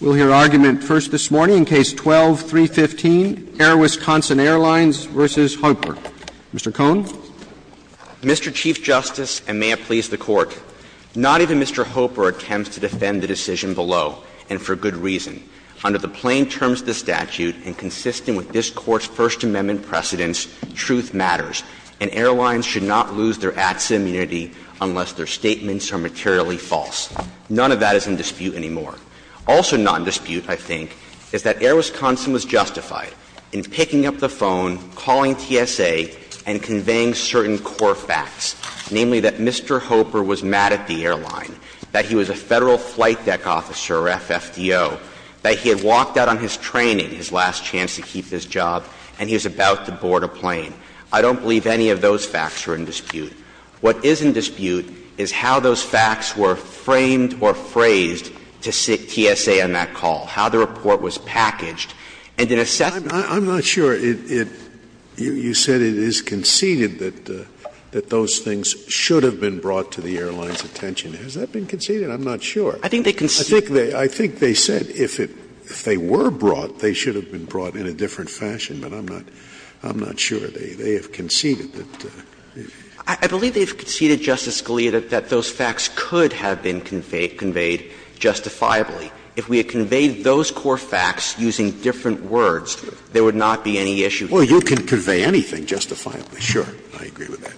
We'll hear argument first this morning in Case 12-315, Air Wisconsin Airlines v. Hoeper. Mr. Cohn. Mr. Chief Justice, and may it please the Court, not even Mr. Hoeper attempts to defend the decision below, and for good reason. Under the plain terms of the statute and consistent with this Court's First Amendment precedents, truth matters, and airlines should not lose their ATSA immunity unless their statements are materially false. None of that is in dispute anymore. Also not in dispute, I think, is that Air Wisconsin was justified in picking up the phone, calling TSA, and conveying certain core facts, namely that Mr. Hoeper was mad at the airline, that he was a Federal Flight Deck Officer, or FFDO, that he had walked out on his training, his last chance to keep his job, and he was about to board a plane. I don't believe any of those facts are in dispute. What is in dispute is how those facts were framed or phrased to TSA on that call, how the report was packaged, and in assessment of that. Scalia. I'm not sure. You said it is conceded that those things should have been brought to the airline's attention. Has that been conceded? I'm not sure. I think they said if they were brought, they should have been brought in a different fashion, but I'm not sure. They have conceded that. I believe they have conceded, Justice Scalia, that those facts could have been conveyed justifiably. If we had conveyed those core facts using different words, there would not be any issue here. Well, you can convey anything justifiably. Sure. I agree with that.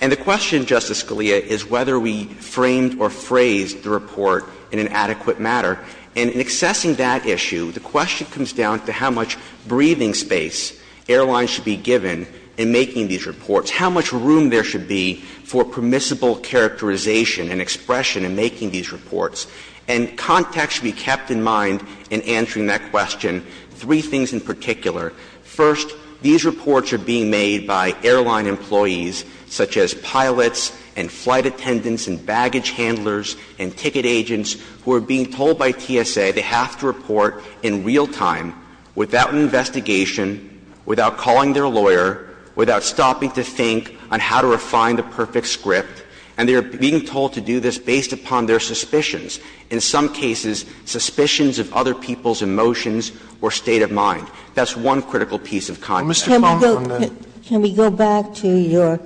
And the question, Justice Scalia, is whether we framed or phrased the report in an adequate manner. And in assessing that issue, the question comes down to how much breathing space airlines should be given in making these reports. How much room there should be for permissible characterization and expression in making these reports. And context should be kept in mind in answering that question, three things in particular. First, these reports are being made by airline employees, such as pilots and flight attendants and baggage handlers and ticket agents, who are being told by TSA they have to report in real time, without investigation, without calling their lawyer, without stopping to think on how to refine the perfect script. And they are being told to do this based upon their suspicions, in some cases suspicions of other people's emotions or state of mind. That's one critical piece of context. Can we go back to your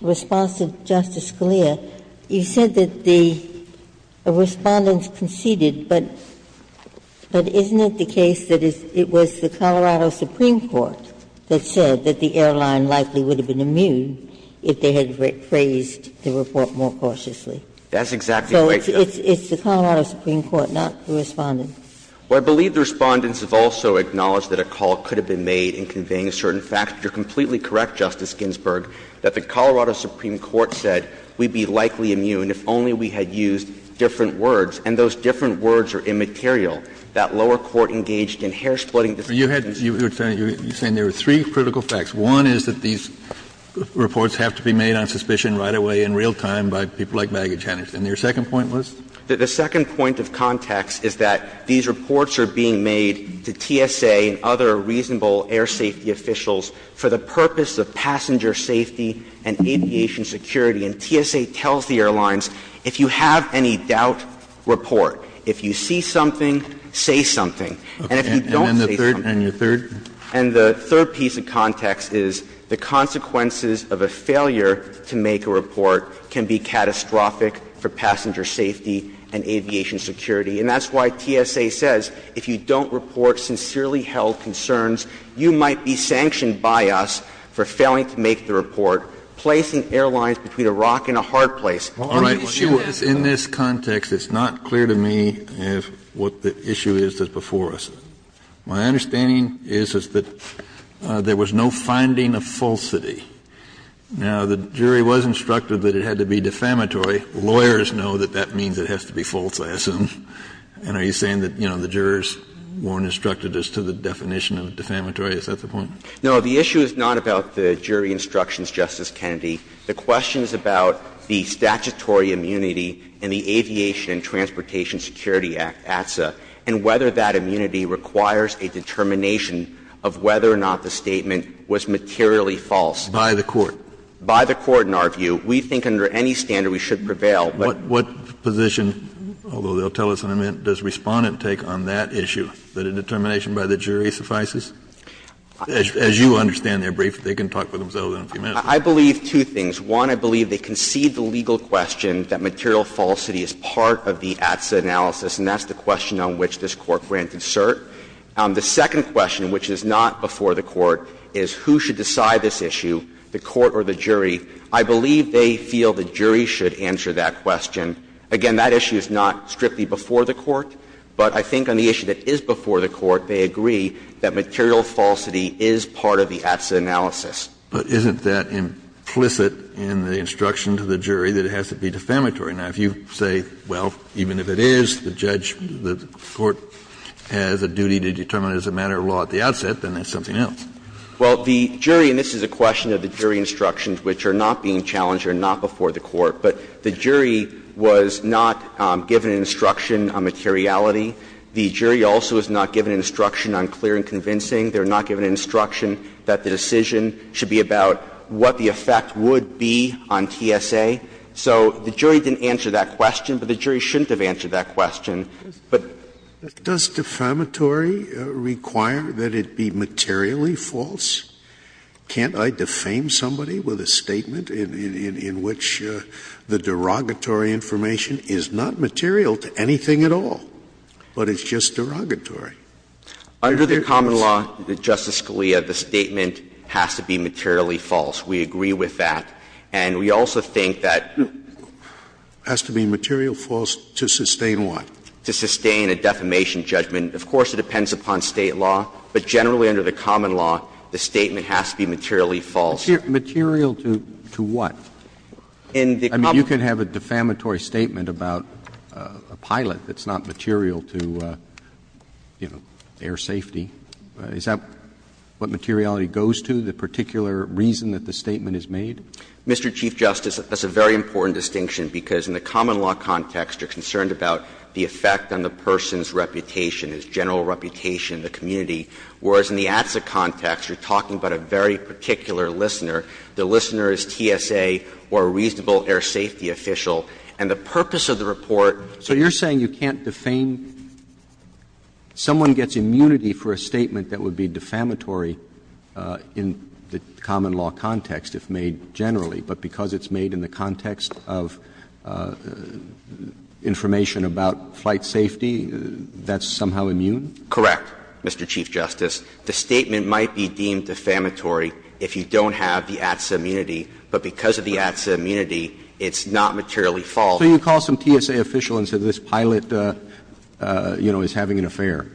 response to Justice Scalia? You said that the Respondents conceded, but isn't it the case that it was the Colorado Supreme Court that said that the airline likely would have been immune if they had phrased the report more cautiously? That's exactly right, Your Honor. So it's the Colorado Supreme Court, not the Respondents. Well, I believe the Respondents have also acknowledged that a call could have been made in conveying certain facts. But you're completely correct, Justice Ginsburg, that the Colorado Supreme Court said we'd be likely immune if only we had used different words, and those different words are immaterial. That lower court engaged in hair-splitting discrimination. You're saying there are three critical facts. One is that these reports have to be made on suspicion right away in real time by people like baggage handlers. And your second point was? The second point of context is that these reports are being made to TSA and other reasonable air safety officials for the purpose of passenger safety and aviation security. And TSA tells the airlines, if you have any doubt, report. If you see something, say something. And if you don't say something. And your third? And the third piece of context is the consequences of a failure to make a report can be catastrophic for passenger safety and aviation security. And that's why TSA says if you don't report sincerely held concerns, you might be sanctioned by us for failing to make the report, placing airlines between a rock and a hard place. All right. Kennedy, the issue is in this context, it's not clear to me what the issue is that's before us. My understanding is that there was no finding of falsity. Now, the jury was instructed that it had to be defamatory. Lawyers know that that means it has to be false, I assume. And are you saying that, you know, the jurors weren't instructed as to the definition of defamatory? Is that the point? No. The issue is not about the jury instructions, Justice Kennedy. The question is about the statutory immunity in the Aviation and Transportation Security Act, ATSA, and whether that immunity requires a determination of whether or not the statement was materially false. By the court. By the court, in our view. We think under any standard we should prevail. But what position, although they'll tell us in a minute, does Respondent take on that issue, that a determination by the jury suffices? As you understand their brief, they can talk for themselves in a few minutes. I believe two things. One, I believe they concede the legal question that material falsity is part of the ATSA analysis, and that's the question on which this Court granted cert. The second question, which is not before the Court, is who should decide this issue, the Court or the jury. I believe they feel the jury should answer that question. Again, that issue is not strictly before the Court, but I think on the issue that is before the Court, they agree that material falsity is part of the ATSA analysis. Kennedy, but isn't that implicit in the instruction to the jury that it has to be defamatory? Now, if you say, well, even if it is, the judge, the court has a duty to determine it as a matter of law at the outset, then that's something else. Well, the jury, and this is a question of the jury instructions which are not being challenged or not before the Court, but the jury was not given instruction on materiality. The jury also was not given instruction on clear and convincing. They were not given instruction that the decision should be about what the effect would be on TSA. So the jury didn't answer that question, but the jury shouldn't have answered But the jury should have answered that question. Scalia, does defamatory require that it be materially false? Can't I defame somebody with a statement in which the derogatory information is not material to anything at all, but it's just derogatory? Under the common law, Justice Scalia, the statement has to be materially false. We agree with that. And we also think that Has to be material false to sustain what? To sustain a defamation judgment. Of course, it depends upon State law, but generally under the common law, the statement has to be materially false. Material to what? I mean, you can have a defamatory statement about a pilot that's not material to, you know, air safety. Is that what materiality goes to, the particular reason that the statement is made? Mr. Chief Justice, that's a very important distinction because in the common law context, you're concerned about the effect on the person's reputation, his general reputation, the community, whereas in the ATSA context, you're talking about a very particular listener. The listener is TSA or a reasonable air safety official. And the purpose of the report So you're saying you can't defame someone gets immunity for a statement that would be defamatory in the common law context, if made generally, but because it's made in the context of information about flight safety, that's somehow immune? Correct, Mr. Chief Justice. The statement might be deemed defamatory if you don't have the ATSA immunity, but because of the ATSA immunity, it's not materially false. So you call some TSA official and say this pilot, you know, is having an affair.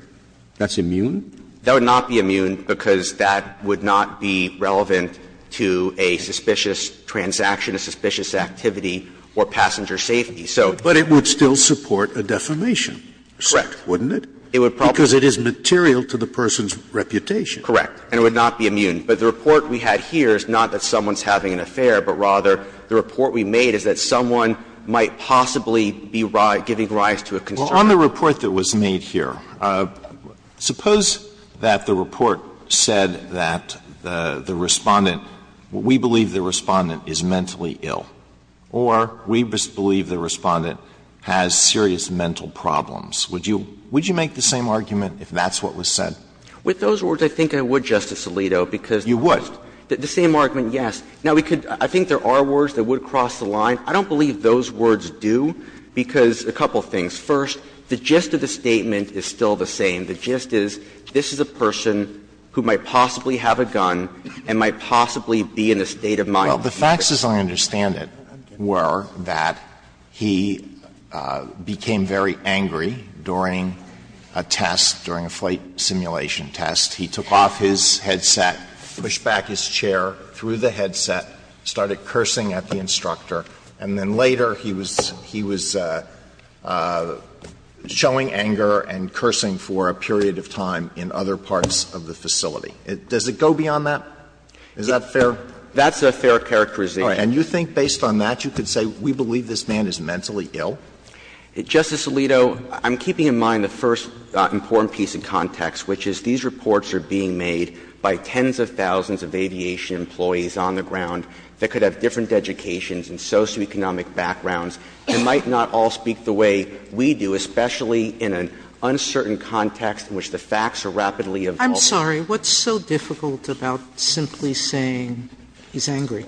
That's immune? That would not be immune because that would not be relevant to a suspicious transaction, a suspicious activity or passenger safety. But it would still support a defamation. Correct. Wouldn't it? It would probably Because it is material to the person's reputation. Correct. And it would not be immune. But the report we had here is not that someone's having an affair, but rather the report we made is that someone might possibly be giving rise to a concern. Well, on the report that was made here, suppose that the report said that the Respondent we believe the Respondent is mentally ill or we believe the Respondent has serious mental problems. Would you make the same argument if that's what was said? With those words, I think I would, Justice Alito, because You would. The same argument, yes. Now, we could, I think there are words that would cross the line. I don't believe those words do, because a couple of things. First, the gist of the statement is still the same. The gist is this is a person who might possibly have a gun and might possibly be in a state of mind. Well, the facts, as I understand it, were that he became very angry during a test, during a flight simulation test. He took off his headset, pushed back his chair through the headset, started cursing at the instructor, and then later he was showing anger and cursing for a period of time in other parts of the facility. Does it go beyond that? Is that fair? That's a fair characterization. And you think based on that, you could say we believe this man is mentally ill? Justice Alito, I'm keeping in mind the first important piece of context, which is these reports are being made by tens of thousands of aviation employees on the ground that could have different educations and socioeconomic backgrounds and might not all speak the way we do, especially in an uncertain context in which the facts are rapidly evolving. Sotomayor I'm sorry. What's so difficult about simply saying he's angry?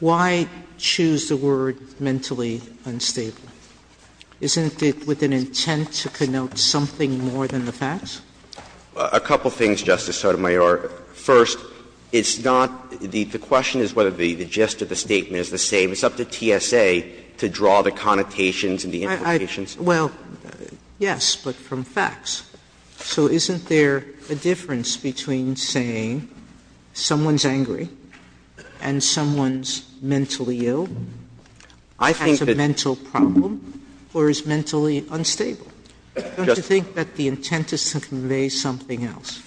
Why choose the word mentally unstable? Isn't it with an intent to connote something more than the facts? A couple of things, Justice Sotomayor. First, it's not the question is whether the gist of the statement is the same. It's up to TSA to draw the connotations and the implications. Well, yes, but from facts. So isn't there a difference between saying someone's angry and someone's mentally ill, has a mental problem, or is mentally unstable? Don't you think that the intent is to convey something else?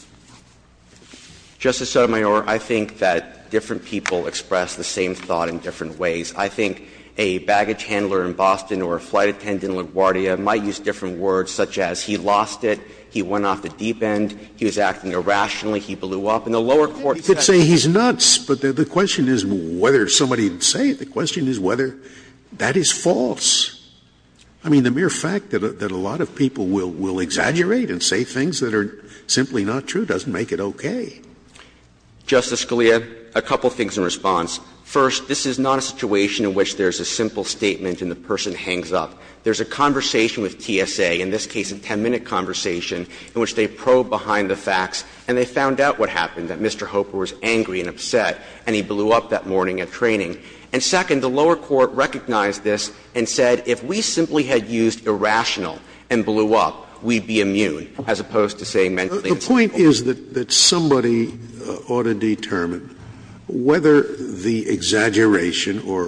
Justice Sotomayor, I think that different people express the same thought in different ways. I think a baggage handler in Boston or a flight attendant in LaGuardia might use different words such as he lost it, he went off the deep end, he was acting irrationally, he blew up. In the lower court section you could say he's nuts, but the question is whether somebody would say it. The question is whether that is false. I mean, the mere fact that a lot of people will exaggerate and say things that are simply not true doesn't make it okay. Justice Scalia, a couple of things in response. First, this is not a situation in which there's a simple statement and the person hangs up. There's a conversation with TSA, in this case a 10-minute conversation, in which they probe behind the facts and they found out what happened, that Mr. Hooper was angry and upset and he blew up that morning at training. And second, the lower court recognized this and said if we simply had used irrational and blew up, we'd be immune, as opposed to saying mentally unstable. Scalia, the point is that somebody ought to determine whether the exaggeration or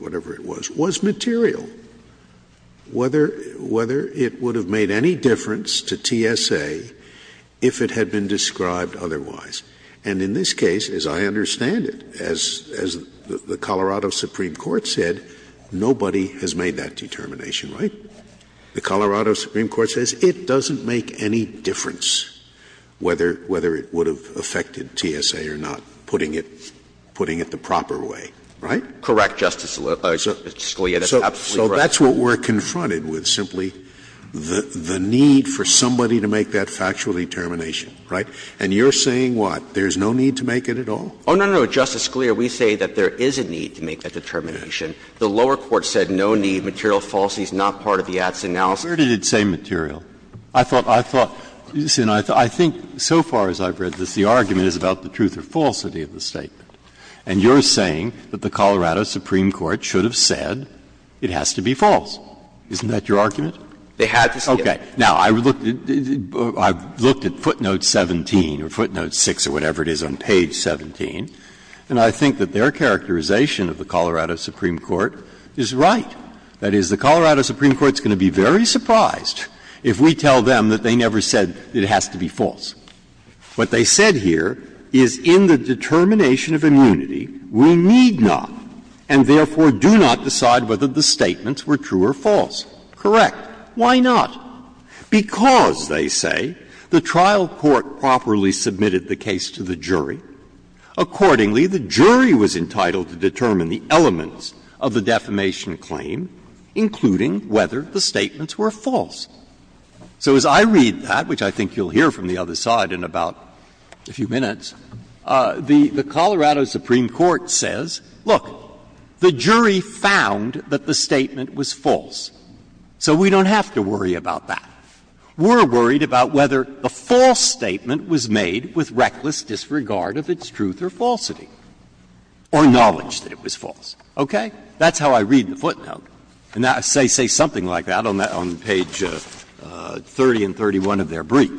whatever it was, was material, whether it would have made any difference to TSA if it had been described otherwise. And in this case, as I understand it, as the Colorado Supreme Court said, nobody has made that determination, right? The Colorado Supreme Court says it doesn't make any difference whether it would have affected TSA or not, putting it the proper way, right? Correct, Justice Scalia. That's absolutely correct. So that's what we're confronted with, simply the need for somebody to make that factual determination, right? And you're saying what? There's no need to make it at all? Oh, no, no, no, Justice Scalia. We say that there is a need to make that determination. The lower court said no need, material falsity is not part of the ads analysis. Where did it say material? I thought, I thought, I think so far as I've read this, the argument is about the truth or falsity of the statement. And you're saying that the Colorado Supreme Court should have said it has to be false. Isn't that your argument? They had to say it. Okay. Now, I've looked at footnote 17 or footnote 6 or whatever it is on page 17, and I think that their characterization of the Colorado Supreme Court is right. That is, the Colorado Supreme Court is going to be very surprised if we tell them that they never said it has to be false. What they said here is in the determination of immunity, we need not, and therefore do not decide whether the statements were true or false. Correct. Why not? Because, they say, the trial court properly submitted the case to the jury. Accordingly, the jury was entitled to determine the elements of the defamation claim, including whether the statements were false. So as I read that, which I think you'll hear from the other side in about a few minutes, the Colorado Supreme Court says, look, the jury found that the statement was false. So we don't have to worry about that. We're worried about whether the false statement was made with reckless disregard of its truth or falsity or knowledge that it was false. Okay? That's how I read the footnote. And they say something like that on page 30 and 31 of their brief.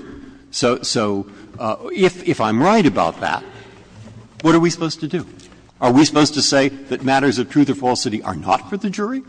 So if I'm right about that, what are we supposed to do? Are we supposed to say that matters of truth or falsity are not for the jury?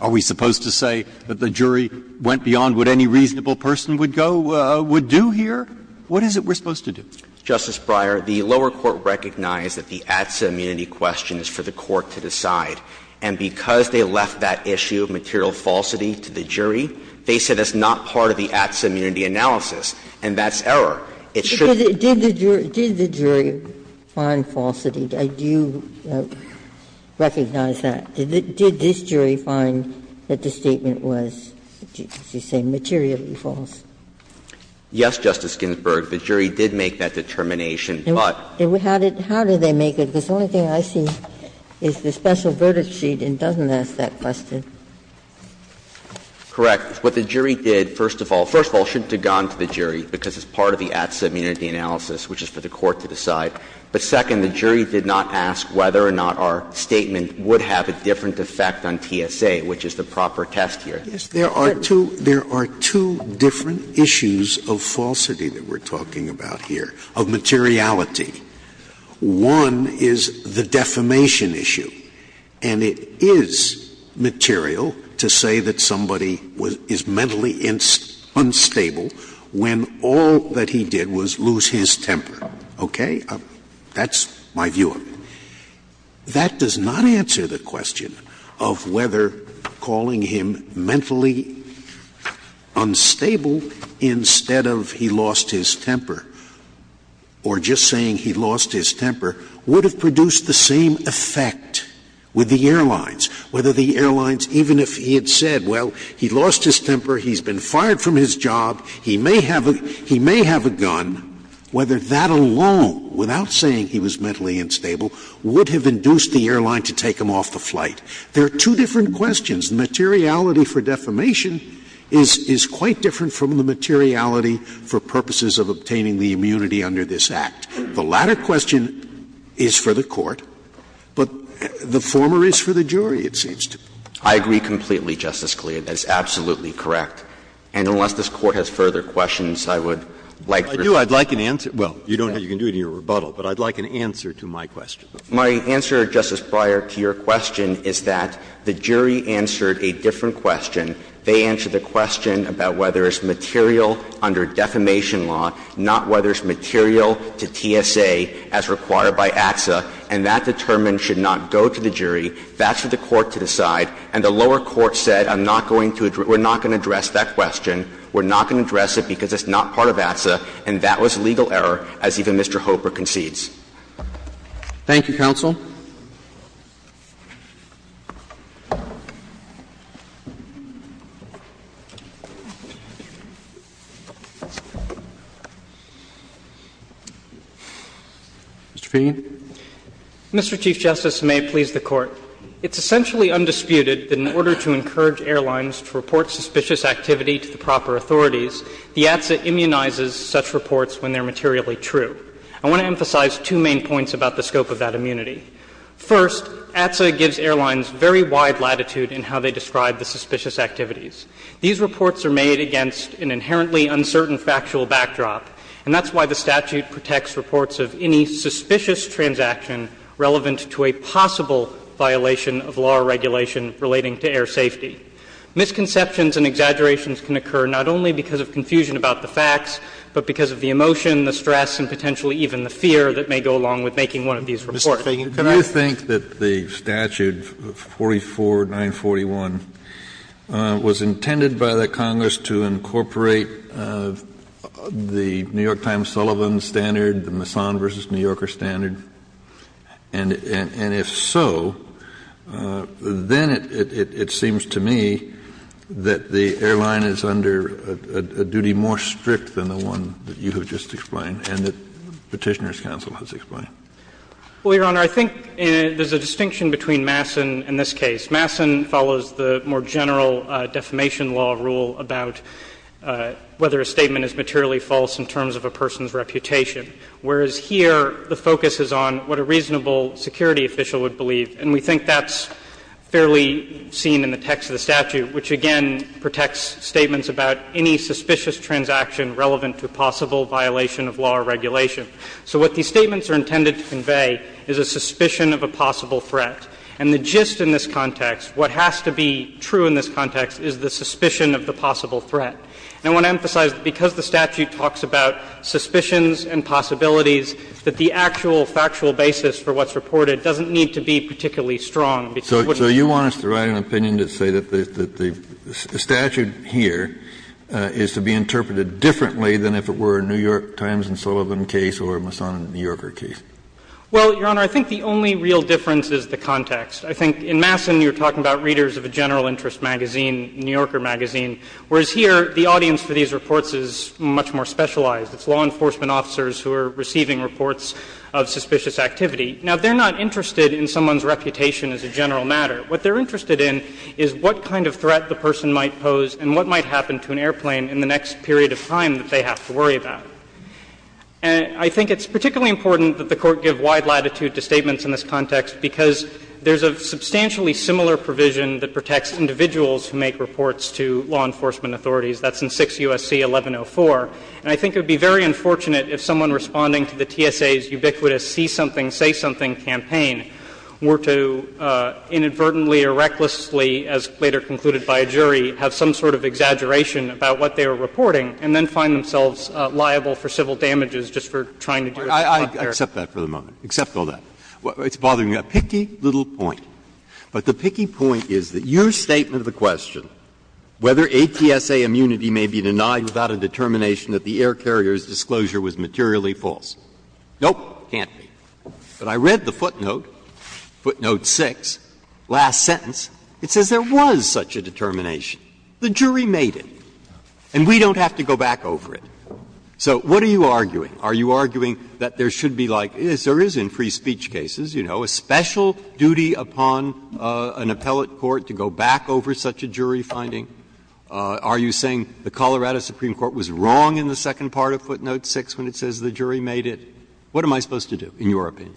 Are we supposed to say that the jury went beyond what any reasonable person would go do here? What is it we're supposed to do? Justice Breyer, the lower court recognized that the ATSA immunity question is for the court to decide. And because they left that issue of material falsity to the jury, they said that's not part of the ATSA immunity analysis, and that's error. It shouldn't be. Ginsburg. Did the jury find falsity? Do you recognize that? Did this jury find that the statement was, as you say, materially false? Yes, Justice Ginsburg. The jury did make that determination, but. How did they make it? Because the only thing I see is the special verdict sheet, and it doesn't ask that question. Correct. What the jury did, first of all, first of all, shouldn't have gone to the jury, because it's part of the ATSA immunity analysis, which is for the court to decide. But second, the jury did not ask whether or not our statement would have a different effect on TSA, which is the proper test here. Yes. There are two different issues of falsity that we're talking about here, of materiality. One is the defamation issue. And it is material to say that somebody is mentally unstable when all that he did was lose his temper. Okay? That's my view of it. That does not answer the question of whether calling him mentally unstable instead of he lost his temper, or just saying he lost his temper, would have produced the same effect with the airlines, whether the airlines, even if he had said, well, he lost his temper, he's been fired from his job, he may have a gun, whether that alone, without saying he was mentally unstable, would have induced the airline to take him off the flight. There are two different questions. The materiality for defamation is quite different from the materiality for purposes of obtaining the immunity under this Act. The latter question is for the court, but the former is for the jury, it seems to me. I agree completely, Justice Scalia. That's absolutely correct. And unless this Court has further questions, I would like to respond. I do. I'd like an answer. Well, you don't, you can do it in your rebuttal, but I'd like an answer to my question. My answer, Justice Breyer, to your question is that the jury answered a different question. They answered the question about whether it's material under defamation law, not whether it's material to TSA as required by ATSA, and that determination should not go to the jury. That's for the court to decide. And the lower court said, I'm not going to, we're not going to address that question. We're not going to address it because it's not part of ATSA, and that was a legal error, as even Mr. Hooper concedes. Thank you, counsel. Mr. Feigin. Mr. Chief Justice, and may it please the Court. It's essentially undisputed that in order to encourage airlines to report suspicious activity to the proper authorities, the ATSA immunizes such reports when they're materially true. I want to emphasize two main points about the scope of that immunity. First, ATSA gives airlines very wide latitude in how they describe the suspicious activities. These reports are made against an inherently uncertain factual backdrop, and that's why the statute protects reports of any suspicious transaction relevant to a possible violation of law or regulation relating to air safety. Misconceptions and exaggerations can occur not only because of confusion about the facts, but because of the emotion, the stress, and potentially even the fear that may go along with making one of these reports. Kennedy, do you think that the statute 44941 was intended by the Congress to incorporate the New York Times Sullivan standard, the Masson v. New Yorker standard? And if so, then it seems to me that the airline is under a duty more strict than the one that you have just explained and that Petitioner's counsel has explained. Well, Your Honor, I think there's a distinction between Masson and this case. Masson follows the more general defamation law rule about whether a statement is materially false in terms of a person's reputation, whereas here the focus is on what a reasonable security official would believe. And we think that's fairly seen in the text of the statute, which again protects statements about any suspicious transaction relevant to a possible violation of law or regulation. So what these statements are intended to convey is a suspicion of a possible threat. And the gist in this context, what has to be true in this context, is the suspicion of the possible threat. And I want to emphasize that because the statute talks about suspicions and possibilities, that the actual factual basis for what's reported doesn't need to be particularly strong. So you want us to write an opinion that says that the statute here is to be interpreted differently than if it were a New York Times and Sullivan case or a Masson and New Yorker case? Well, Your Honor, I think the only real difference is the context. I think in Masson you're talking about readers of a general interest magazine, New Yorker magazine, whereas here the audience for these reports is much more specialized. It's law enforcement officers who are receiving reports of suspicious activity. Now, they're not interested in someone's reputation as a general matter. What they're interested in is what kind of threat the person might pose and what might happen to an airplane in the next period of time that they have to worry about. And I think it's particularly important that the Court give wide latitude to statements in this context because there's a substantially similar provision that protects individuals who make reports to law enforcement authorities. That's in 6 U.S.C. 1104. And I think it would be very unfortunate if someone responding to the TSA's ubiquitous see something, say something campaign were to inadvertently or recklessly, as later concluded by a jury, have some sort of exaggeration about what they were reporting and then find themselves liable for civil damages just for trying to do a job there. I accept that for the moment. Accept all that. It's bothering me. A picky little point. But the picky point is that your statement of the question, whether a TSA immunity may be denied without a determination that the air carrier's disclosure was materially false, nope, can't be. But I read the footnote, footnote 6, last sentence. It says there was such a determination. The jury made it. And we don't have to go back over it. So what are you arguing? Are you arguing that there should be like as there is in free speech cases, you know, a special duty upon an appellate court to go back over such a jury finding? Are you saying the Colorado Supreme Court was wrong in the second part of footnote 6 when it says the jury made it? What am I supposed to do, in your opinion?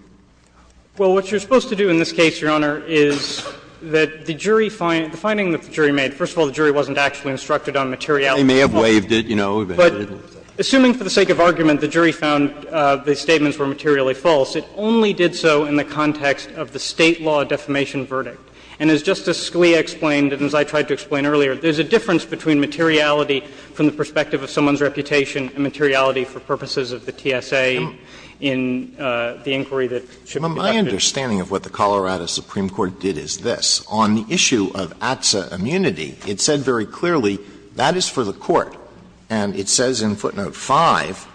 Well, what you're supposed to do in this case, Your Honor, is that the jury find the finding that the jury made, first of all, the jury wasn't actually instructed on materiality. They may have waived it, you know. But assuming for the sake of argument the jury found the statements were materially false, it only did so in the context of the State law defamation verdict. And as Justice Scalia explained and as I tried to explain earlier, there's a difference between materiality from the perspective of someone's reputation and materiality for purposes of the TSA in the inquiry that should be conducted. But my understanding of what the Colorado Supreme Court did is this. On the issue of ATSA immunity, it said very clearly that is for the court. And it says in footnote 5,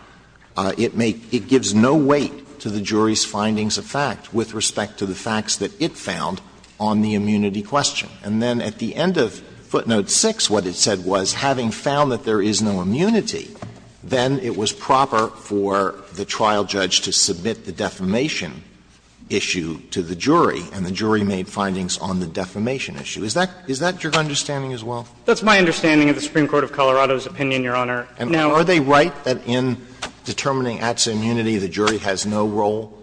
it may – it gives no weight to the jury's findings of fact with respect to the facts that it found on the immunity question. And then at the end of footnote 6, what it said was, having found that there is no immunity, then it was proper for the trial judge to submit the defamation issue to the jury, and the jury made findings on the defamation issue. Is that – is that your understanding as well? That's my understanding of the Supreme Court of Colorado's opinion, Your Honor. Now, are they right that in determining ATSA immunity, the jury has no role?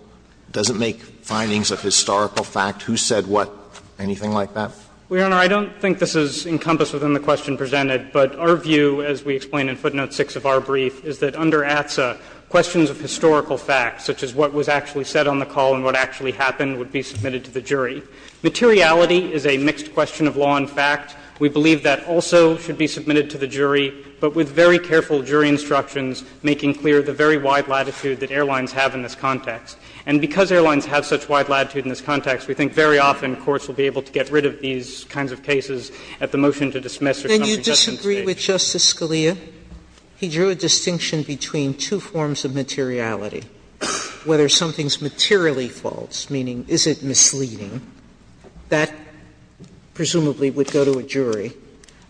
Does it make findings of historical fact? Who said what? Anything like that? Well, Your Honor, I don't think this is encompassed within the question presented, but our view, as we explain in footnote 6 of our brief, is that under ATSA, questions of historical facts, such as what was actually said on the call and what actually happened, would be submitted to the jury. Materiality is a mixed question of law and fact. We believe that also should be submitted to the jury, but with very careful jury instructions making clear the very wide latitude that airlines have in this context. And because airlines have such wide latitude in this context, we think very often courts will be able to get rid of these kinds of cases at the motion to dismiss or to not submit to the jury. Sotomayor, can you disagree with Justice Scalia? He drew a distinction between two forms of materiality, whether something's materially false, meaning is it misleading. That presumably would go to a jury.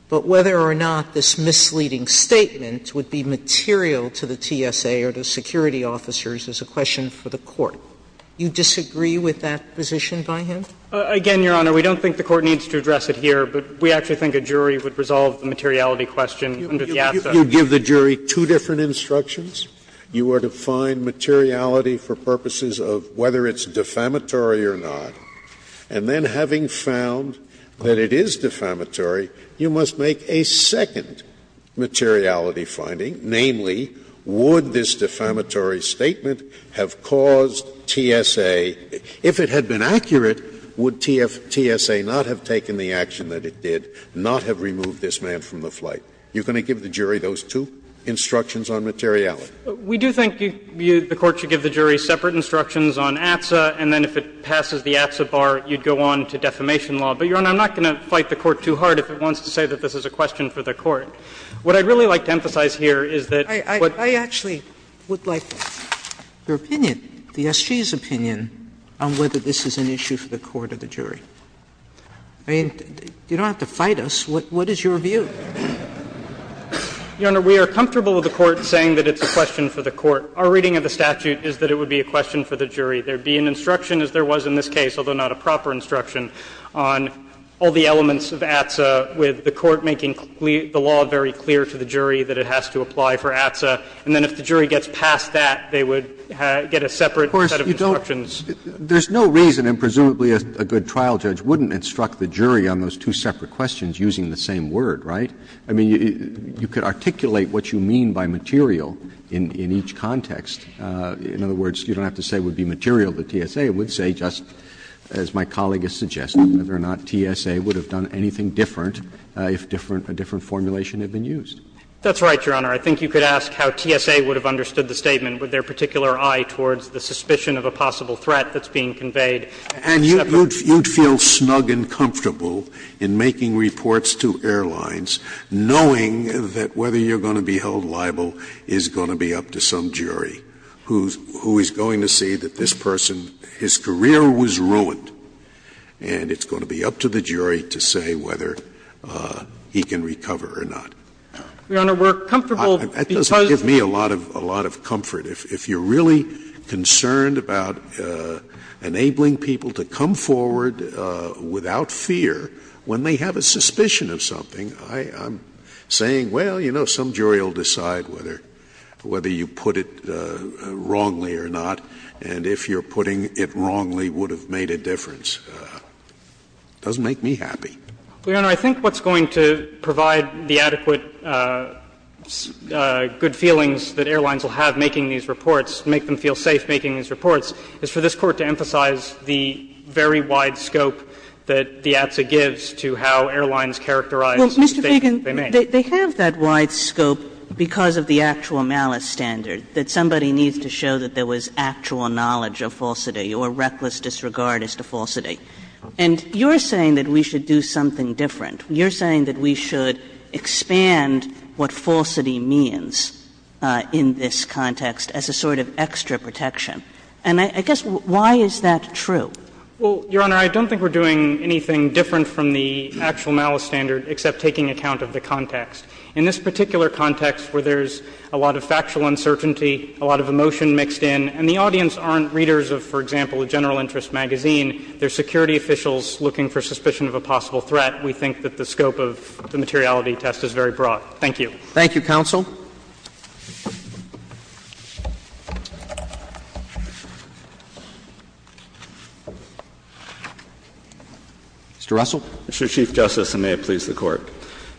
But whether or not this misleading statement would be material to the TSA or the security officers is a question for the Court. Do you disagree with that position by him? Again, Your Honor, we don't think the Court needs to address it here, but we actually think a jury would resolve the materiality question under the ATSA. You give the jury two different instructions. You are to find materiality for purposes of whether it's defamatory or not. And then having found that it is defamatory, you must make a second materiality finding, namely, would this defamatory statement have caused TSA, if it had been accurate, would TSA not have taken the action that it did, not have removed this man from the flight? You're going to give the jury those two instructions on materiality? We do think the Court should give the jury separate instructions on ATSA, and then if it passes the ATSA bar, you'd go on to defamation law. But, Your Honor, I'm not going to fight the Court too hard if it wants to say that this is a question for the Court. What I'd really like to emphasize here is that what the SGS opinion on whether this is an issue for the Court or the jury. I mean, you don't have to fight us. What is your view? Your Honor, we are comfortable with the Court saying that it's a question for the Court. Our reading of the statute is that it would be a question for the jury. There would be an instruction, as there was in this case, although not a proper instruction, on all the elements of ATSA, with the Court making the law very clear to the jury that it has to apply for ATSA, and then if the jury gets past that, they would get a separate set of instructions. Roberts, you don't – there's no reason, and presumably a good trial judge wouldn't instruct the jury on those two separate questions using the same word, right? I mean, you could articulate what you mean by material in each context. In other words, you don't have to say it would be material. The TSA would say, just as my colleague has suggested, whether or not TSA would have done anything different if different – a different formulation had been used. That's right, Your Honor. I think you could ask how TSA would have understood the statement with their particular eye towards the suspicion of a possible threat that's being conveyed. And you'd feel snug and comfortable in making reports to airlines knowing that whether you're going to be held liable is going to be up to some jury who is going to see that this person, his career was ruined, and it's going to be up to the jury to say whether he can recover or not. Your Honor, we're comfortable because of the fact that we're going to be held liable for that. That doesn't give me a lot of – a lot of comfort. If you're really concerned about enabling people to come forward without fear when they have a suspicion of something, I'm saying, well, you know, some jury will decide whether you put it wrongly or not. And if you're putting it wrongly, it would have made a difference. It doesn't make me happy. Your Honor, I think what's going to provide the adequate good feelings that airlines will have making these reports, make them feel safe making these reports, is for this Court to emphasize the very wide scope that the ATSA gives to how airlines characterize the statement they make. Well, Mr. Feigin, they have that wide scope because of the actual malice standard, that somebody needs to show that there was actual knowledge of falsity or reckless disregard as to falsity. And you're saying that we should do something different. You're saying that we should expand what falsity means in this context as a sort of extra protection. And I guess, why is that true? Well, Your Honor, I don't think we're doing anything different from the actual malice standard except taking account of the context. In this particular context where there's a lot of factual uncertainty, a lot of emotion mixed in, and the audience aren't readers of, for example, a general interest magazine, they're security officials looking for suspicion of a possible threat, we think that the scope of the materiality test is very broad. Thank you. Thank you, counsel. Mr. Russell. Mr. Chief Justice, and may it please the Court.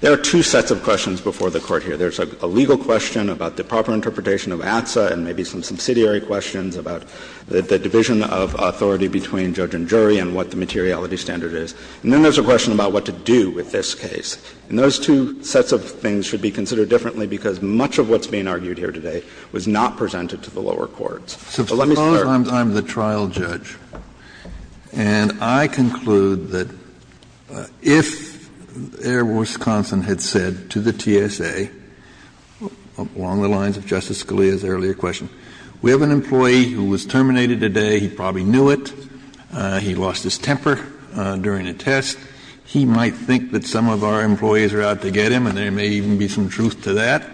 There are two sets of questions before the Court here. There's a legal question about the proper interpretation of ATSA and maybe some subsidiary questions about the division of authority between judge and jury and what the materiality standard is. And then there's a question about what to do with this case. And those two sets of things should be considered differently because much of what's being argued here today was not presented to the lower courts. So let me start. I'm the trial judge, and I conclude that if Air Wisconsin had said to the TSA, along the lines of Justice Scalia's earlier question, we have an employee who was terminated today, he probably knew it, he lost his temper during a test, he might think that some of our employees are out to get him, and there may even be some truth to that.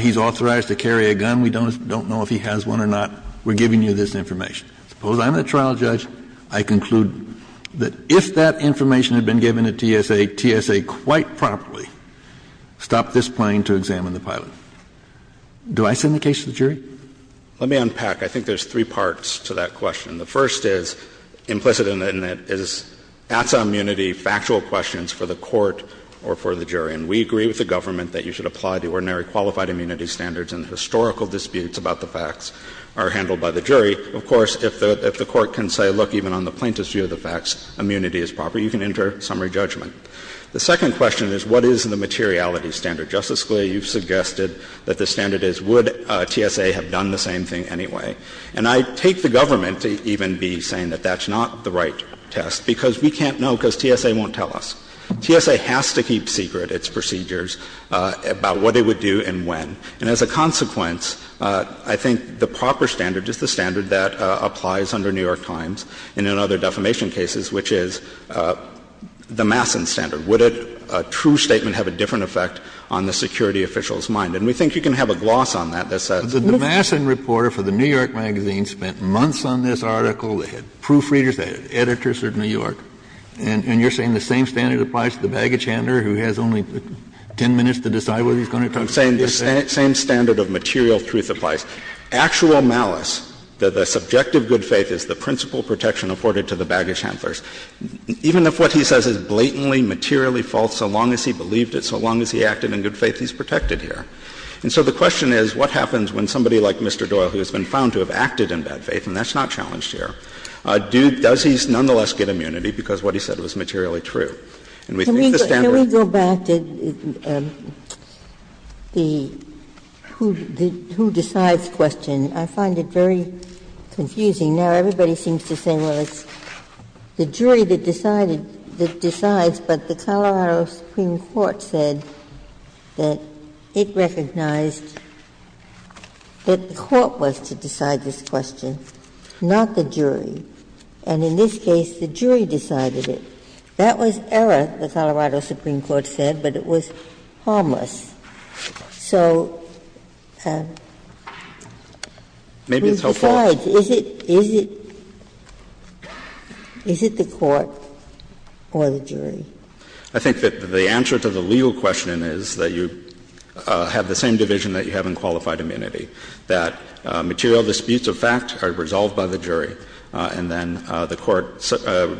He's authorized to carry a gun. We don't know if he has one or not. We're giving you this information. Suppose I'm the trial judge. I conclude that if that information had been given to TSA, TSA quite promptly stopped this plane to examine the pilot. Do I send the case to the jury? Let me unpack. I think there's three parts to that question. The first is implicit in it is ATSA immunity factual questions for the Court or for the jury. And we agree with the government that you should apply the ordinary qualified immunity standards and historical disputes about the facts are handled by the jury. Of course, if the Court can say, look, even on the plaintiff's view of the facts, immunity is proper, you can enter summary judgment. The second question is what is the materiality standard? Justice Scalia, you've suggested that the standard is would TSA have done the same thing anyway. And I take the government to even be saying that that's not the right test, because we can't know because TSA won't tell us. TSA has to keep secret its procedures about what it would do and when. And as a consequence, I think the proper standard is the standard that applies under New York Times and in other defamation cases, which is the Masson standard. Would a true statement have a different effect on the security official's mind? And we think you can have a gloss on that that says the Masson reporter for the New York magazine spent months on this article. They had proofreaders. They had editors of New York. And you're saying the same standard applies to the baggage handler who has only 10 minutes to decide whether he's going to talk to the TSA? I'm saying the same standard of material truth applies. Actual malice, the subjective good faith is the principal protection afforded to the baggage handlers. Even if what he says is blatantly, materially false, so long as he believed it, so long as he acted in good faith, he's protected here. And so the question is what happens when somebody like Mr. Doyle, who has been found to have acted in bad faith, and that's not challenged here, does he nonetheless get immunity because what he said was materially true? And we think the standard of truth applies. Ginsburg-Miller Can we go back to the who decides question? I find it very confusing. Now, everybody seems to say, well, it's the jury that decided, that decides, but the Colorado Supreme Court said that it recognized that the court was to decide this question, not the jury. And in this case, the jury decided it. That was error, the Colorado Supreme Court said, but it was harmless. So who decides? Is it the court or the jury? I think that the answer to the legal question is that you have the same division that you have in qualified immunity, that material disputes of fact are resolved by the jury. And then the court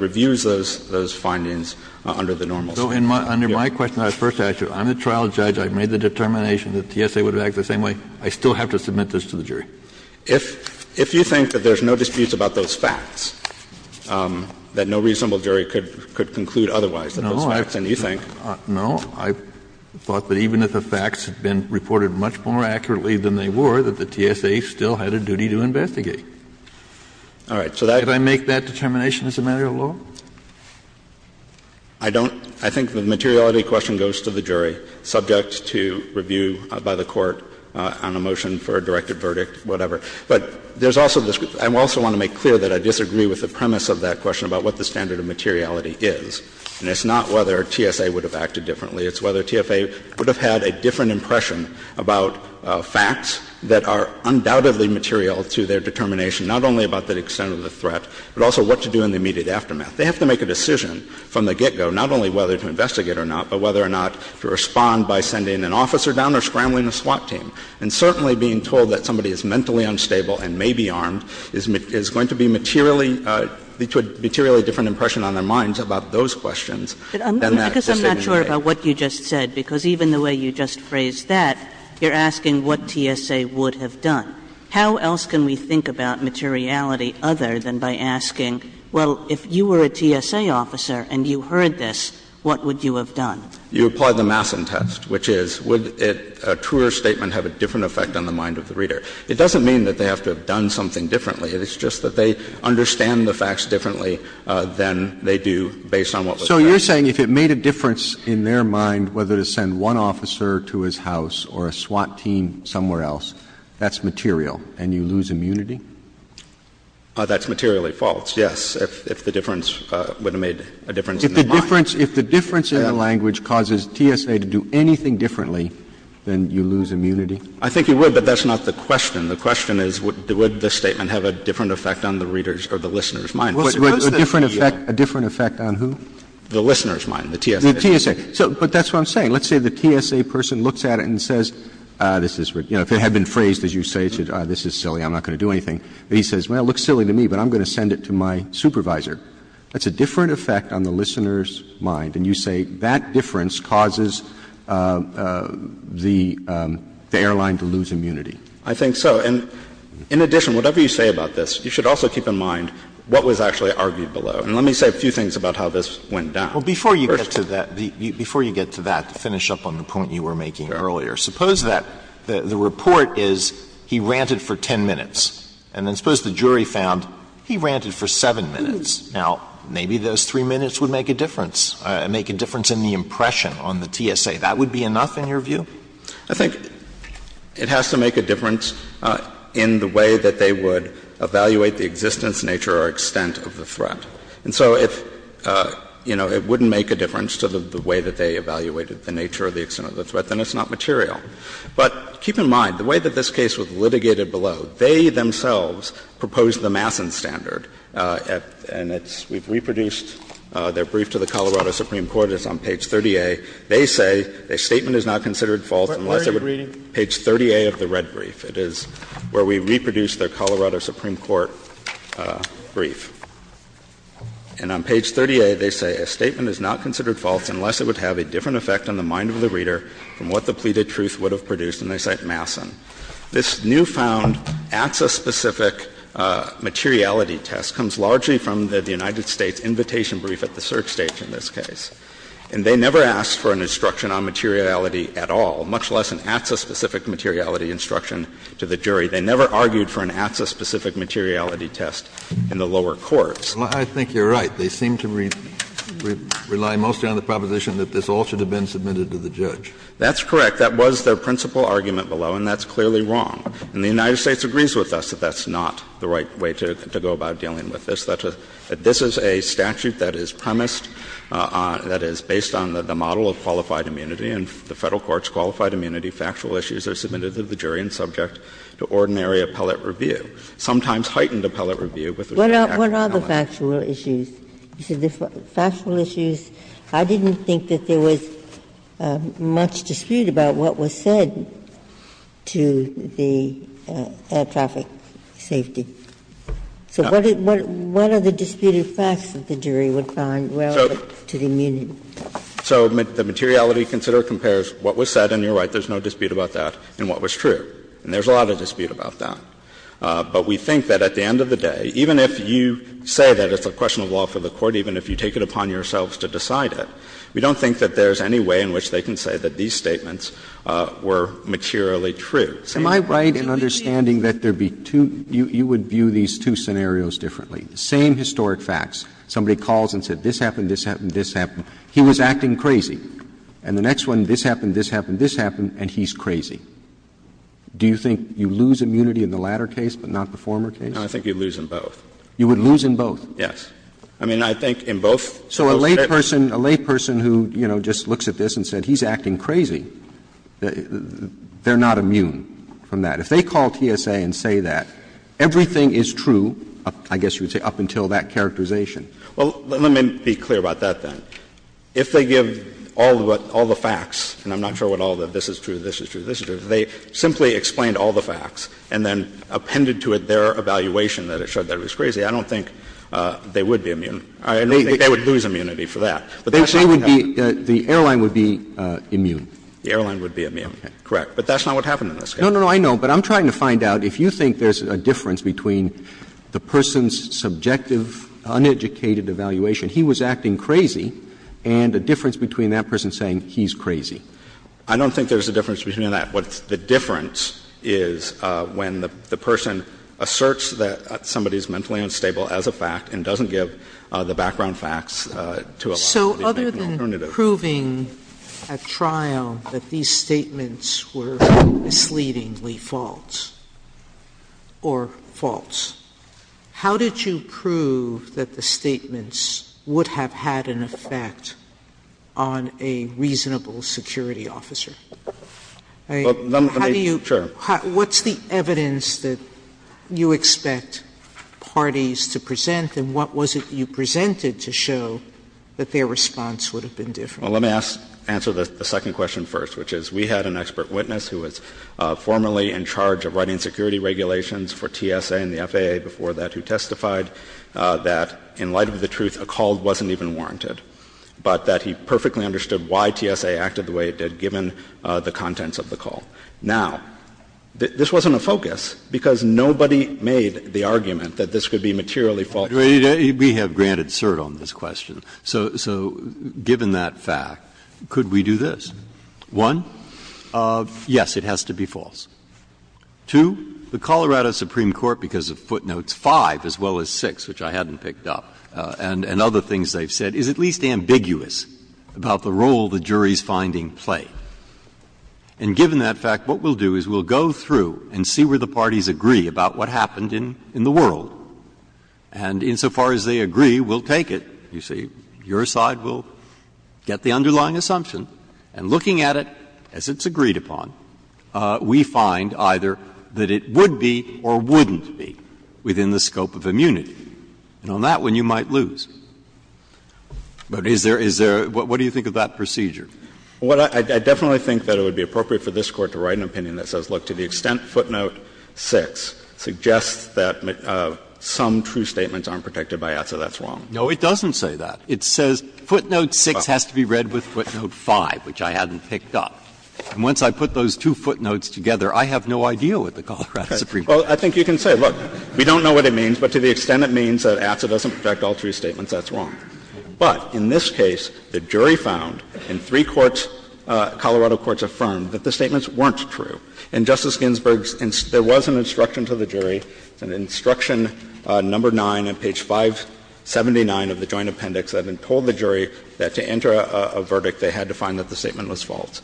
reviews those findings under the normal statute. Kennedy So under my question, I first asked you, I'm the trial judge, I made the determination that TSA would have acted the same way. I still have to submit this to the jury? If you think that there's no disputes about those facts, that no reasonable jury could conclude otherwise than those facts, and you think? Kennedy No. I thought that even if the facts had been reported much more accurately than they were, that the TSA still had a duty to investigate. Kennedy All right. So that's Kennedy Could I make that determination as a matter of law? Kennedy I don't. I think the materiality question goes to the jury, subject to review by the court on a motion for a directed verdict, whatever. But there's also this group. I also want to make clear that I disagree with the premise of that question about what the standard of materiality is. And it's not whether TSA would have acted differently. It's whether TSA would have had a different impression about facts that are undoubtedly material to their determination, not only about the extent of the threat, but also what to do in the immediate aftermath. They have to make a decision from the get-go, not only whether to investigate or not, but whether or not to respond by sending an officer down or scrambling a SWAT team. And certainly being told that somebody is mentally unstable and may be armed is going to be materially to a materially different impression on their minds about those questions. Kagan Because I'm not sure about what you just said, because even the way you just phrased that, you're asking what TSA would have done. How else can we think about materiality other than by asking, well, if you were a TSA officer and you heard this, what would you have done? Stewart You apply the Masson test, which is would a truer statement have a different effect on the mind of the reader? It doesn't mean that they have to have done something differently. It's just that they understand the facts differently than they do based on what was said. Roberts So you're saying if it made a difference in their mind whether to send one officer to his house or a SWAT team somewhere else, that's material and you lose immunity? Stewart That's materially false, yes, if the difference would have made a difference in their mind. Roberts If the difference in the language causes TSA to do anything differently, then you lose immunity? Stewart I think you would, but that's not the question. The question is would this statement have a different effect on the reader's or the listener's mind? Roberts A different effect on who? Stewart The listener's mind, the TSA. Roberts The TSA. But that's what I'm saying. Let's say the TSA person looks at it and says, this is, you know, if it had been phrased, as you say, this is silly, I'm not going to do anything. He says, well, it looks silly to me, but I'm going to send it to my supervisor. That's a different effect on the listener's mind. And you say that difference causes the airline to lose immunity. Stewart I think so. And in addition, whatever you say about this, you should also keep in mind what was actually argued below. And let me say a few things about how this went down. Well, before you get to that, before you get to that, to finish up on the point you were making earlier, suppose that the report is he ranted for 10 minutes, and then suppose the jury found he ranted for 7 minutes. Now, maybe those 3 minutes would make a difference, make a difference in the impression on the TSA. That would be enough in your view? Stewart I think it has to make a difference in the way that they would evaluate the existence, nature or extent of the threat. And so if, you know, it wouldn't make a difference to the way that they evaluated the nature or the extent of the threat, then it's not material. But keep in mind, the way that this case was litigated below, they themselves proposed the Masson standard. And it's we've reproduced their brief to the Colorado Supreme Court. It's on page 30A. They say, a statement is not considered false unless it would be page 30A of the red brief. It is where we reproduced their Colorado Supreme Court brief. And on page 30A, they say, a statement is not considered false unless it would have a different effect on the mind of the reader from what the pleaded truth would have produced, and they cite Masson. This newfound ATSA-specific materiality test comes largely from the United States invitation brief at the search stage in this case. And they never asked for an instruction on materiality at all, much less an ATSA-specific materiality instruction to the jury. They never argued for an ATSA-specific materiality test in the lower courts. Kennedy Well, I think you're right. They seem to rely mostly on the proposition that this all should have been submitted to the judge. That's correct. That was their principal argument below, and that's clearly wrong. And the United States agrees with us that that's not the right way to go about dealing with this. This is a statute that is premised on, that is based on the model of qualified immunity, and the Federal courts' qualified immunity factual issues are submitted to the jury and subject to ordinary appellate review, sometimes heightened appellate review with respect to the Federal government. Ginsburg What are the factual issues? I didn't think that there was much dispute about what was said to the traffic safety. So what are the disputed facts that the jury would find relevant to the immunity? So the materiality consider compares what was said, and you're right, there's no dispute about that, and what was true. And there's a lot of dispute about that. But we think that at the end of the day, even if you say that it's a question of law for the Court, even if you take it upon yourselves to decide it, we don't think that there's any way in which they can say that these statements were materially true. Roberts Am I right in understanding that there be two — you would view these two scenarios differently? The same historic facts, somebody calls and said, this happened, this happened, He was acting crazy, and the next one, this happened, this happened, this happened, and he's crazy. Do you think you lose immunity in the latter case, but not the former case? No, I think you lose in both. You would lose in both? Yes. I mean, I think in both. So a layperson, a layperson who, you know, just looks at this and said, he's acting crazy, they're not immune from that. If they call TSA and say that, everything is true, I guess you would say, up until that characterization. Well, let me be clear about that, then. If they give all the facts, and I'm not sure what all the this is true, this is true, this is true, if they simply explained all the facts and then appended to it their evaluation that it showed that it was crazy, I don't think they would be immune. I don't think they would lose immunity for that. But that's not what happened. They would be — the airline would be immune. The airline would be immune, correct. But that's not what happened in this case. No, no, no. I know. But I'm trying to find out if you think there's a difference between the person's subjective, uneducated evaluation, he was acting crazy, and the difference between that person saying he's crazy. I don't think there's a difference between that. What's the difference is when the person asserts that somebody is mentally unstable as a fact and doesn't give the background facts to allow them to make an alternative. Sotomayor So other than proving at trial that these statements were misleadingly false or false, how did you prove that the statements would have had an effect on a reasonable security officer? I mean, how do you – what's the evidence that you expect parties to present and what was it that you presented to show that their response would have been different? Well, let me ask — answer the second question first, which is we had an expert witness who was formerly in charge of writing security regulations for TSA and the FAA before that who testified that in light of the truth, a call wasn't even warranted, but that he perfectly understood why TSA acted the way it did given the contents of the call. Now, this wasn't a focus because nobody made the argument that this could be materially false. Breyer, we have granted cert on this question, so given that fact, could we do this? One, yes, it has to be false. Two, the Colorado Supreme Court, because of footnotes 5 as well as 6, which I hadn't picked up, and other things they've said, is at least ambiguous about the role the jury's finding played. And given that fact, what we'll do is we'll go through and see where the parties agree about what happened in the world. And insofar as they agree, we'll take it. You see, your side will get the underlying assumption, and looking at it as it's agreed upon, we find either that it would be or wouldn't be within the scope of immunity. And on that one, you might lose. But is there — is there — what do you think of that procedure? Well, I definitely think that it would be appropriate for this Court to write an opinion that says, look, to the extent footnote 6 suggests that some true statements aren't protected by it, so that's wrong. No, it doesn't say that. It says footnote 6 has to be read with footnote 5, which I hadn't picked up. And once I put those two footnotes together, I have no idea what the Colorado Supreme Court says. Well, I think you can say, look, we don't know what it means, but to the extent it means that ATSA doesn't protect all true statements, that's wrong. But in this case, the jury found, and three courts, Colorado courts, affirmed that the statements weren't true. And Justice Ginsburg's — there was an instruction to the jury, it's in Instruction No. 9 on page 579 of the Joint Appendix, that it told the jury that to enter a verdict, they had to find that the statement was false.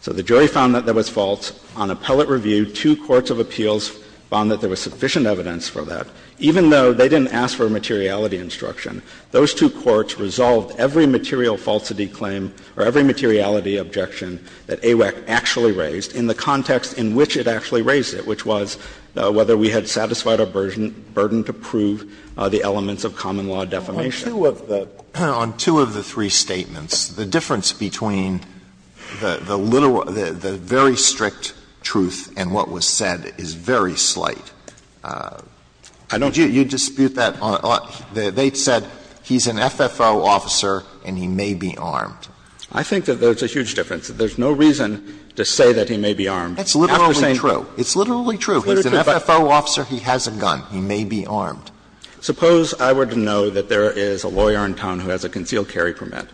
So the jury found that that was false. On appellate review, two courts of appeals found that there was sufficient evidence for that, even though they didn't ask for a materiality instruction. Those two courts resolved every material falsity claim or every materiality objection that AWAC actually raised in the context in which it actually raised it, which was whether we had satisfied our burden to prove the elements of common-law defamation. Alito, on two of the three statements, the difference between the literal — the very strict truth and what was said is very slight. You dispute that on — they said he's an FFO officer and he may be armed. I think that there's a huge difference. There's no reason to say that he may be armed. That's literally true. It's literally true. He's an FFO officer. He has a gun. He may be armed. Suppose I were to know that there is a lawyer in town who has a concealed carry permit,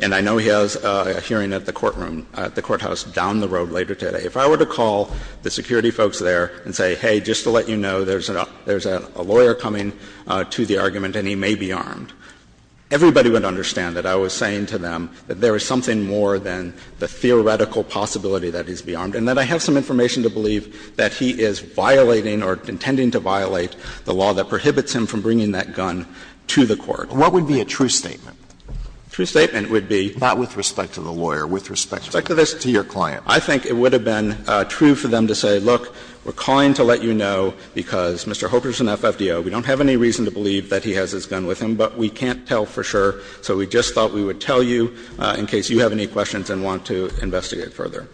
and I know he has a hearing at the courtroom, at the courthouse down the road later today. If I were to call the security folks there and say, hey, just to let you know, there's a lawyer coming to the argument and he may be armed, everybody would understand that I was saying to them that there is something more than the theoretical possibility that he's armed, and that I have some information to believe that he is violating or intending to violate the law that prohibits him from bringing that gun to the court. What would be a true statement? A true statement would be — Not with respect to the lawyer. With respect to this to your client. I think it would have been true for them to say, look, we're calling to let you know because Mr. Hoekers is an FFDO. We don't have any reason to believe that he has his gun with him, but we can't tell for sure, so we just thought we would tell you in case you have any questions and want to investigate further.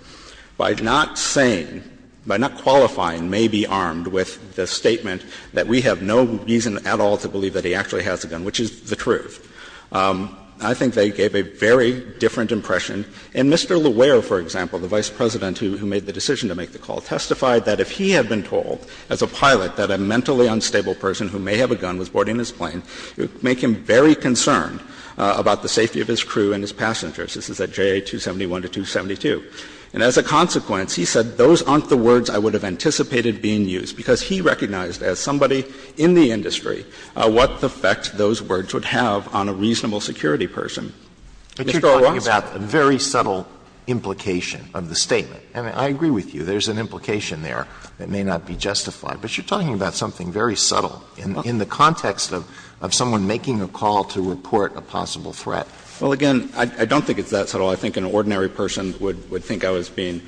By not saying, by not qualifying may be armed with the statement that we have no reason at all to believe that he actually has a gun, which is the truth, I think they gave a very different impression. And Mr. Lauer, for example, the Vice President who made the decision to make the call, testified that if he had been told as a pilot that a mentally unstable person who may have a gun was boarding his plane, it would make him very concerned about the safety of his crew and his passengers. This is at JA 271 to 272. And as a consequence, he said, those aren't the words I would have anticipated being used, because he recognized as somebody in the industry what effect those words would have on a reasonable security person. Mr. O'Rourke. Alito, you're talking about a very subtle implication of the statement. I mean, I agree with you. There's an implication there that may not be justified, but you're talking about something very subtle in the context of someone making a call to report a possible threat. Well, again, I don't think it's that subtle. I think an ordinary person would think I was being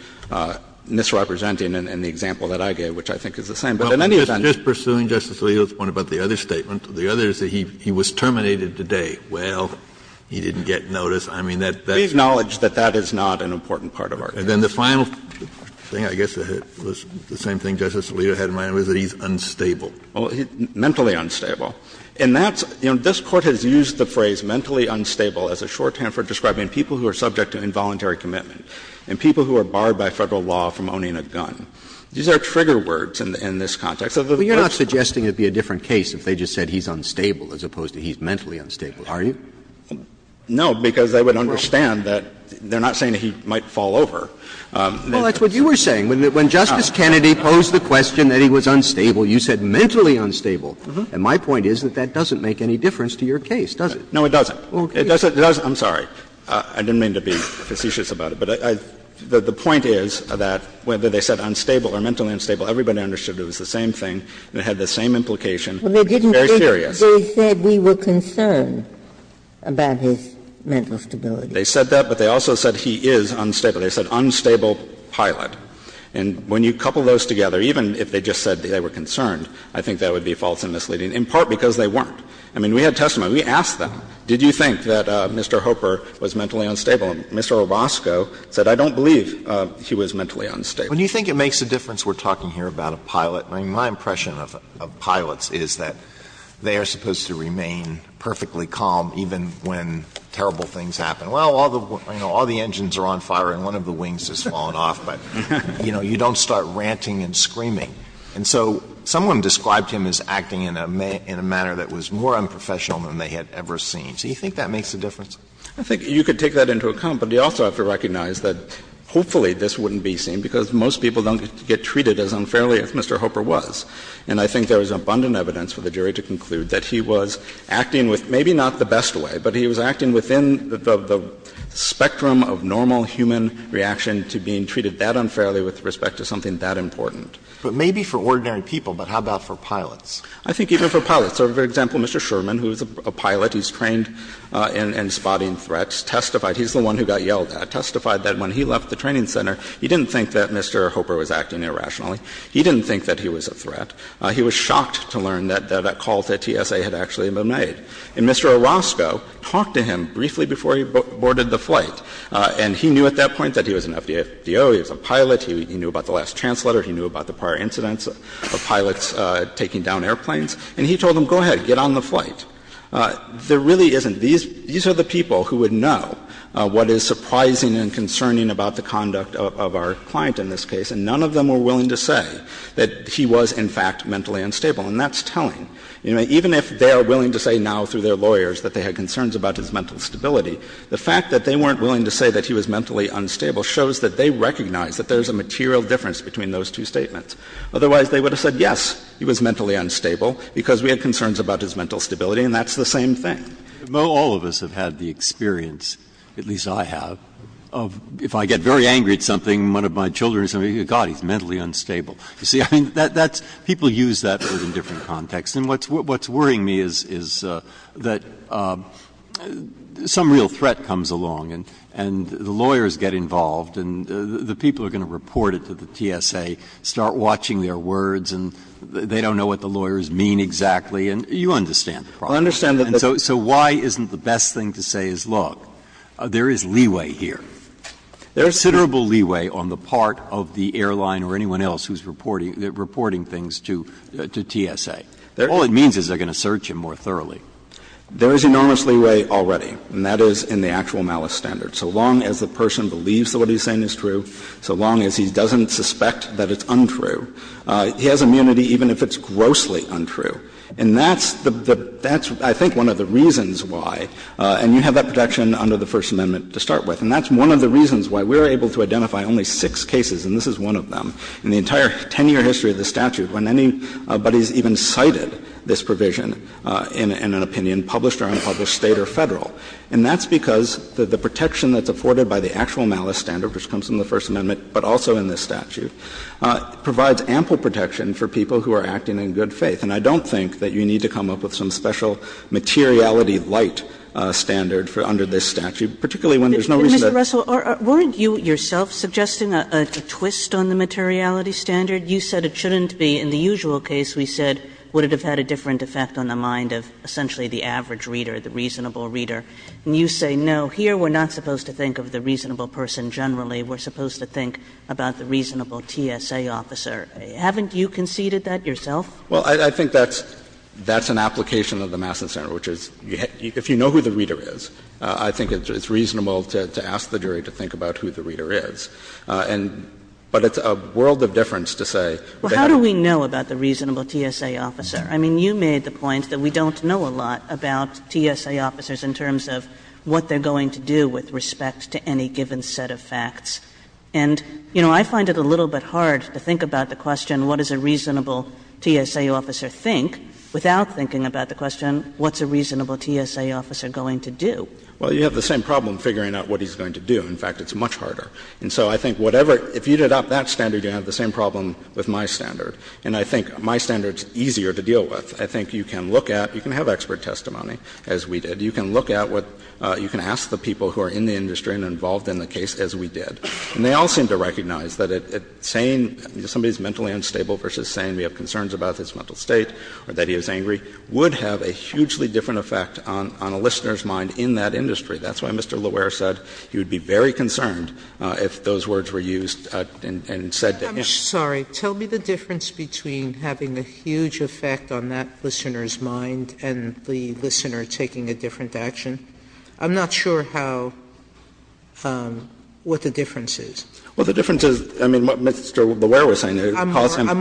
misrepresenting in the example that I gave, which I think is the same. But in any event. Just pursuing Justice Alito's point about the other statement, the other is that he was terminated today. Well, he didn't get notice. I mean, that's not an important part of our case. And then the final thing, I guess, was the same thing Justice Alito had in mind, was that he's unstable. Mentally unstable. And that's — you know, this Court has used the phrase mentally unstable as a shorthand for describing people who are subject to involuntary commitment and people who are barred by Federal law from owning a gun. These are trigger words in this context. So the question is the same. But you're not suggesting it would be a different case if they just said he's unstable as opposed to he's mentally unstable, are you? No, because I would understand that they're not saying that he might fall over. Well, that's what you were saying. When Justice Kennedy posed the question that he was unstable, you said mentally unstable. And my point is that that doesn't make any difference to your case, does it? No, it doesn't. It doesn't. I'm sorry. I didn't mean to be facetious about it. But the point is that whether they said unstable or mentally unstable, everybody understood it was the same thing and it had the same implication, which is very serious. They said we were concerned about his mental stability. They said that, but they also said he is unstable. They said unstable pilot. And when you couple those together, even if they just said they were concerned, I think that would be false and misleading, in part because they weren't. I mean, we had testimony. We asked them, did you think that Mr. Hopper was mentally unstable? And Mr. Obrosko said, I don't believe he was mentally unstable. When you think it makes a difference, we're talking here about a pilot. I mean, my impression of pilots is that they are supposed to remain perfectly calm even when terrible things happen. Well, all the engines are on fire and one of the wings has fallen off, but, you know, you don't start ranting and screaming. And so someone described him as acting in a manner that was more unprofessional than they had ever seen. Do you think that makes a difference? I think you could take that into account, but you also have to recognize that hopefully this wouldn't be seen because most people don't get treated as unfairly as Mr. Hopper was. And I think there is abundant evidence for the jury to conclude that he was acting with maybe not the best way, but he was acting within the spectrum of normal human reaction to being treated that unfairly with respect to something that important. But maybe for ordinary people, but how about for pilots? I think even for pilots. So, for example, Mr. Sherman, who is a pilot, he's trained in spotting threats, testified. He's the one who got yelled at. Testified that when he left the training center, he didn't think that Mr. Hopper was acting irrationally. He didn't think that he was a threat. He was shocked to learn that that call to TSA had actually been made. And Mr. Orozco talked to him briefly before he boarded the flight, and he knew at that point that he was an FDO, he was a pilot, he knew about the last chance letter, he knew about the prior incidents of pilots taking down airplanes. And he told him, go ahead, get on the flight. There really isn't. These are the people who would know what is surprising and concerning about the conduct of our client in this case, and none of them were willing to say that he was, in fact, mentally unstable. And that's telling. Even if they are willing to say now through their lawyers that they had concerns about his mental stability, the fact that they weren't willing to say that he was mentally unstable shows that they recognize that there is a material difference between those two statements. Otherwise, they would have said, yes, he was mentally unstable, because we had concerns about his mental stability, and that's the same thing. Breyer, all of us have had the experience, at least I have, of if I get very angry at something, one of my children or somebody, God, he's mentally unstable. You see, I mean, that's – people use that, but in a different context. And what's worrying me is that some real threat comes along, and the lawyers get involved, and the people are going to report it to the TSA, start watching their words, and they don't know what the lawyers mean exactly. And you understand the problem. And so why isn't the best thing to say is, look, there is leeway here. There is considerable leeway on the part of the airline or anyone else who is reporting things to TSA. All it means is they are going to search him more thoroughly. There is enormous leeway already, and that is in the actual malice standard. So long as the person believes that what he's saying is true, so long as he doesn't suspect that it's untrue, he has immunity even if it's grossly untrue. And that's the – that's, I think, one of the reasons why, and you have that protection under the First Amendment to start with, and that's one of the reasons why we are able to identify only six cases, and this is one of them, in the entire 10-year history of the statute, when anybody has even cited this provision in an opinion, published or unpublished, State or Federal. And that's because the protection that's afforded by the actual malice standard, which comes from the First Amendment but also in this statute, provides ample protection for people who are acting in good faith. And I don't think that you need to come up with some special materiality light standard under this statute, particularly when there's no reason to do that. Kagan. Kagan. Kagan. Kagan. Kagan. Kagan. Kagan. Kagan. Kagan. Kagan. Kagan. Kagan. Kagan. Kagan. And you say, no. Here we're not supposed to think of the reasonable person generally. We're supposed to think about the reasonable TSA officer. Haven't you conceded that yourself? Well, I think that's an application of the Mass Action Center, which is if you know who the reader is, I think it's reasonable to ask the jury to think about who the reader is. But it's a world of difference to say. Well, how do we know about the reasonable TSA officer? I mean, you made the point that we don't know a lot about TSA officers in terms of what they're going to do with respect to any given set of facts. And, you know, I find it a little bit hard to think about the question what does a reasonable TSA officer think, without thinking about the question what's a reasonable TSA officer going to do. Well, you have the same problem figuring out what he's going to do. In fact, it's much harder. And so I think whatever — if you did up that standard, you'd have the same problem with my standard. And I think my standard is easier to deal with. I think you can look at — you can have expert testimony, as we did. You can look at what — you can ask the people who are in the industry and involved in the case, as we did. And they all seem to recognize that saying somebody is mentally unstable versus saying we have concerns about his mental state or that he is angry would have a hugely different effect on a listener's mind in that industry. That's why Mr. Lauer said he would be very concerned if those words were used and said to him. Sotomayor, I'm sorry. Tell me the difference between having a huge effect on that listener's mind and the listener taking a different action. I'm not sure how — what the difference is. Well, the difference is, I mean, what Mr. Lauer was saying. I'm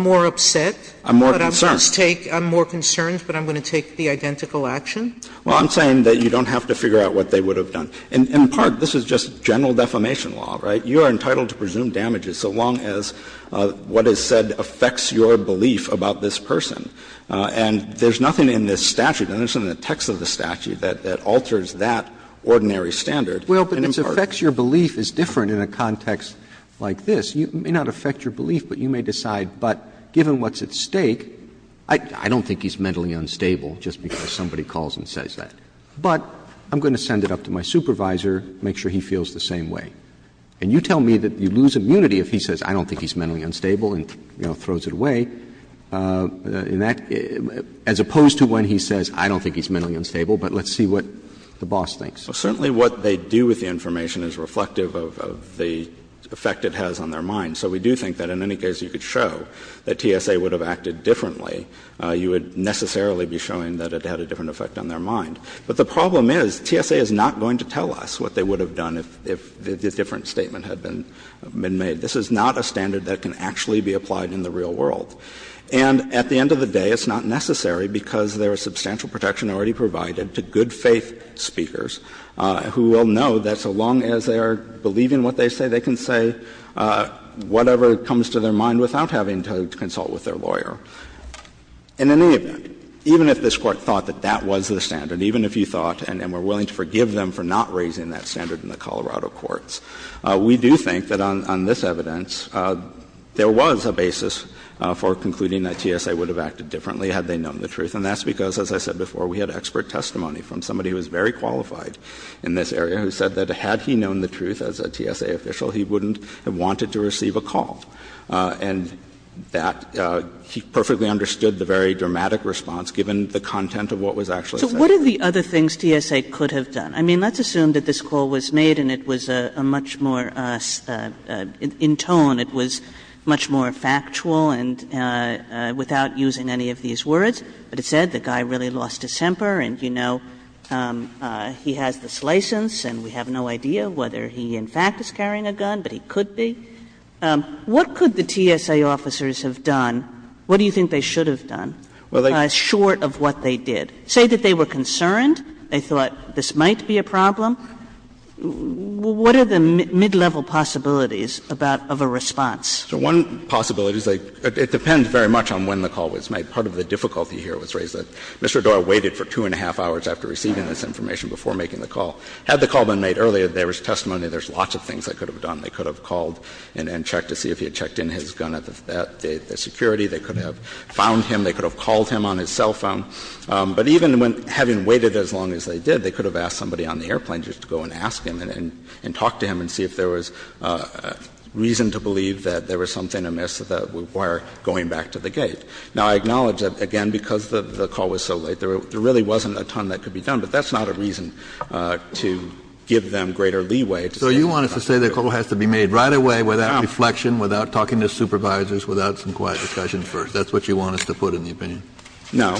more upset. I'm more concerned. I'm more concerned, but I'm going to take the identical action. Well, I'm saying that you don't have to figure out what they would have done. In part, this is just general defamation law, right? You are entitled to presume damages so long as what is said affects your belief about this person. And there's nothing in this statute, nothing in the text of the statute, that alters that ordinary standard. Well, but it affects your belief is different in a context like this. It may not affect your belief, but you may decide, but given what's at stake, I don't think he's mentally unstable just because somebody calls and says that. But I'm going to send it up to my supervisor, make sure he feels the same way. And you tell me that you lose immunity if he says, I don't think he's mentally unstable and, you know, throws it away, as opposed to when he says, I don't think he's mentally unstable, but let's see what the boss thinks. Well, certainly what they do with the information is reflective of the effect it has on their mind. So we do think that in any case you could show that TSA would have acted differently, you would necessarily be showing that it had a different effect on their mind. But the problem is, TSA is not going to tell us what they would have done if a different statement had been made. This is not a standard that can actually be applied in the real world. And at the end of the day, it's not necessary because there is substantial protection already provided to good faith speakers who will know that so long as they are believing what they say, they can say whatever comes to their mind without having to consult with their lawyer. In any event, even if this Court thought that that was the standard, even if you thought and were willing to forgive them for not raising that standard in the Colorado courts, we do think that on this evidence there was a basis for concluding that TSA would have acted differently had they known the truth. And that's because, as I said before, we had expert testimony from somebody who was very qualified in this area who said that had he known the truth as a TSA official, he wouldn't have wanted to receive a call. And that he perfectly understood the very dramatic response given the content of what was actually said. Kagan So what are the other things TSA could have done? I mean, let's assume that this call was made and it was a much more in tone, it was much more factual and without using any of these words. But it said the guy really lost his temper and, you know, he has this license and we have no idea whether he in fact is carrying a gun, but he could be. What could the TSA officers have done? What do you think they should have done short of what they did? Say that they were concerned, they thought this might be a problem. What are the mid-level possibilities about of a response? So one possibility is like, it depends very much on when the call was made. Part of the difficulty here was raised that Mr. O'Doyle waited for two and a half hours after receiving this information before making the call. Had the call been made earlier, there was testimony, there's lots of things they could have done. They could have called and checked to see if he had checked in his gun at the security. They could have found him. They could have called him on his cell phone. But even when, having waited as long as they did, they could have asked somebody on the airplane just to go and ask him and talk to him and see if there was reason to believe that there was something amiss that would require going back to the gate. Now, I acknowledge that, again, because the call was so late, there really wasn't a ton that could be done, but that's not a reason to give them greater leeway to say that the call was made. Kennedy No. Kennedy That's what you want us to put in the opinion. Kennedy No.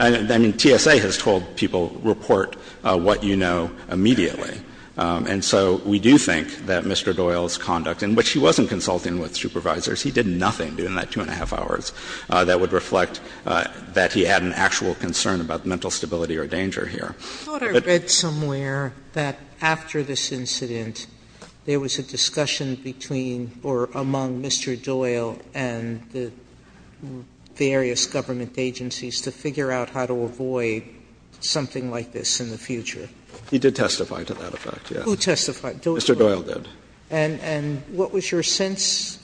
I mean, TSA has told people, report what you know immediately. And so we do think that Mr. O'Doyle's conduct, in which he wasn't consulting with supervisors, he did nothing during that two and a half hours, that would reflect that he had an actual concern about mental stability or danger here. Sotomayor I thought I read somewhere that after this incident there was a discussion between or among Mr. O'Doyle and the various government agencies to figure out how to avoid something like this in the future. Kennedy He did testify to that effect, yes. Sotomayor Who testified? Kennedy Mr. O'Doyle did. Sotomayor And what was your sense?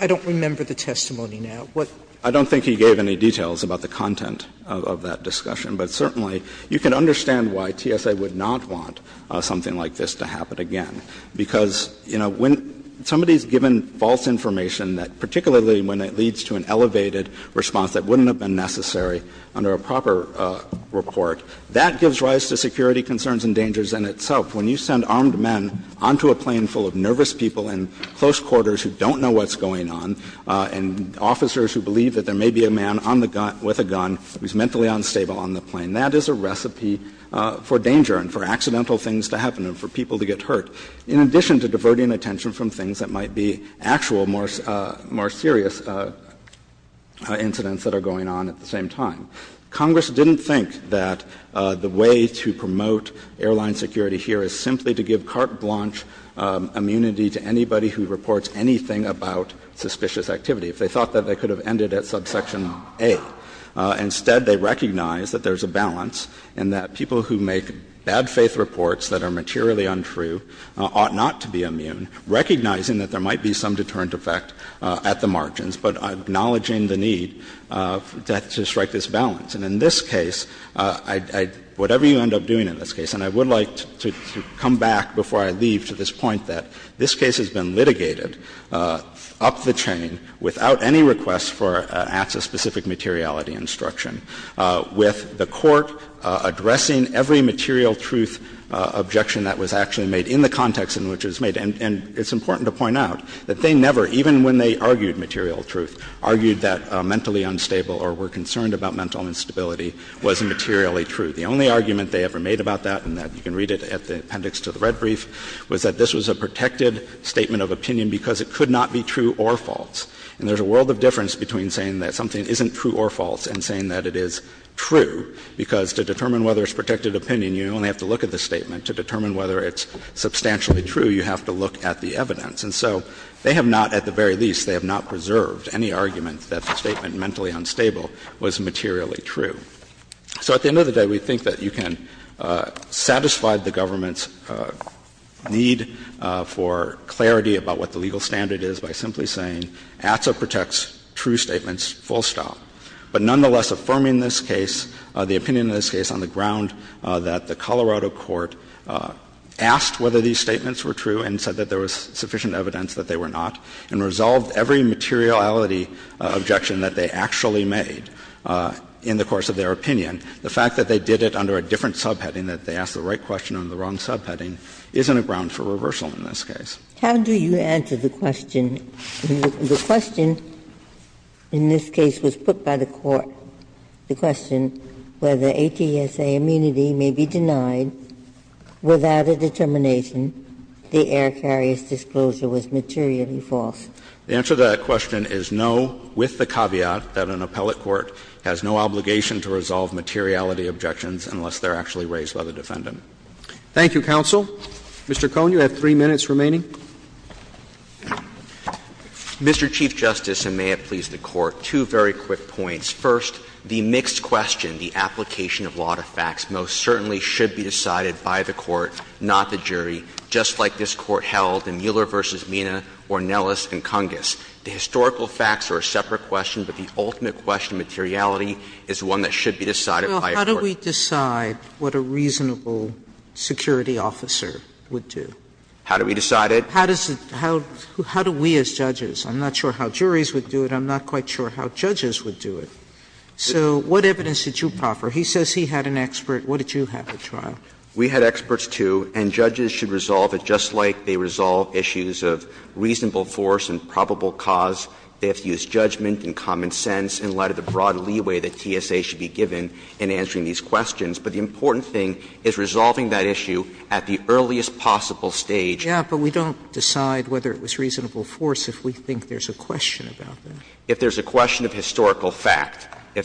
I don't remember the testimony now. What? Kennedy I don't think he gave any details about the content of that discussion, but certainly you can understand why TSA would not want something like this to happen again. Because, you know, when somebody is given false information, particularly when it leads to an elevated response that wouldn't have been necessary under a proper report, that gives rise to security concerns and dangers in itself. When you send armed men onto a plane full of nervous people in close quarters who don't know what's going on, and officers who believe that there may be a man on the gun with a gun who is mentally unstable on the plane, that is a recipe for danger and for accidental things to happen and for people to get hurt, in addition to diverting attention from things that might be actual, more serious incidents that are going on at the same time. Congress didn't think that the way to promote airline security here is simply to give carte blanche immunity to anybody who reports anything about suspicious activity. If they thought that, they could have ended at subsection A. But instead, they recognize that there's a balance and that people who make bad-faith reports that are materially untrue ought not to be immune, recognizing that there might be some deterrent effect at the margins, but acknowledging the need to strike this balance. And in this case, I — whatever you end up doing in this case, and I would like to come back before I leave to this point that this case has been litigated up the chain without any request for access-specific materiality instruction, with the Court addressing every material truth objection that was actually made in the context in which it was made. And it's important to point out that they never, even when they argued material truth, argued that mentally unstable or were concerned about mental instability was materially true. The only argument they ever made about that, and you can read it at the appendix to the red brief, was that this was a protected statement of opinion because it could not be true or false. And there's a world of difference between saying that something isn't true or false and saying that it is true, because to determine whether it's protected opinion, you only have to look at the statement. To determine whether it's substantially true, you have to look at the evidence. And so they have not, at the very least, they have not preserved any argument that the statement mentally unstable was materially true. So at the end of the day, we think that you can satisfy the government's need for clarity about what the legal standard is by simply saying ATSA protects true statements full stop. But nonetheless, affirming this case, the opinion in this case, on the ground that the Colorado court asked whether these statements were true and said that there was sufficient evidence that they were not, and resolved every materiality objection that they actually made in the course of their opinion, the fact that they did it under a different subheading, that they asked the right question under the wrong subheading, isn't a ground for reversal in this case. Ginsburg How do you answer the question? The question in this case was put by the court, the question whether ATSA immunity may be denied without a determination the air carrier's disclosure was materially false. The answer to that question is no, with the caveat that an appellate court has no obligation to resolve materiality objections unless they are actually raised by the defendant. Roberts. Thank you, counsel. Mr. Cohn, you have three minutes remaining. Mr. Chief Justice, and may it please the Court, two very quick points. First, the mixed question, the application of law to facts, most certainly should be decided by the court, not the jury, just like this Court held in Mueller v. Mina, Ornelas, and Cungas. The historical facts are a separate question, but the ultimate question, materiality, is one that should be decided by a court. Sotomayor Well, how do we decide what a reasonable security officer would do? How do we decide it? Sotomayor How does it – how do we as judges? I'm not sure how juries would do it. I'm not quite sure how judges would do it. So what evidence did you proffer? He says he had an expert. What did you have at trial? We had experts, too, and judges should resolve it just like they resolve issues of reasonable force and probable cause. They have to use judgment and common sense in light of the broad leeway that TSA should be given in answering these questions. But the important thing is resolving that issue at the earliest possible stage. Sotomayor Yeah, but we don't decide whether it was reasonable force if we think there's a question about that. If there's a question of historical fact, if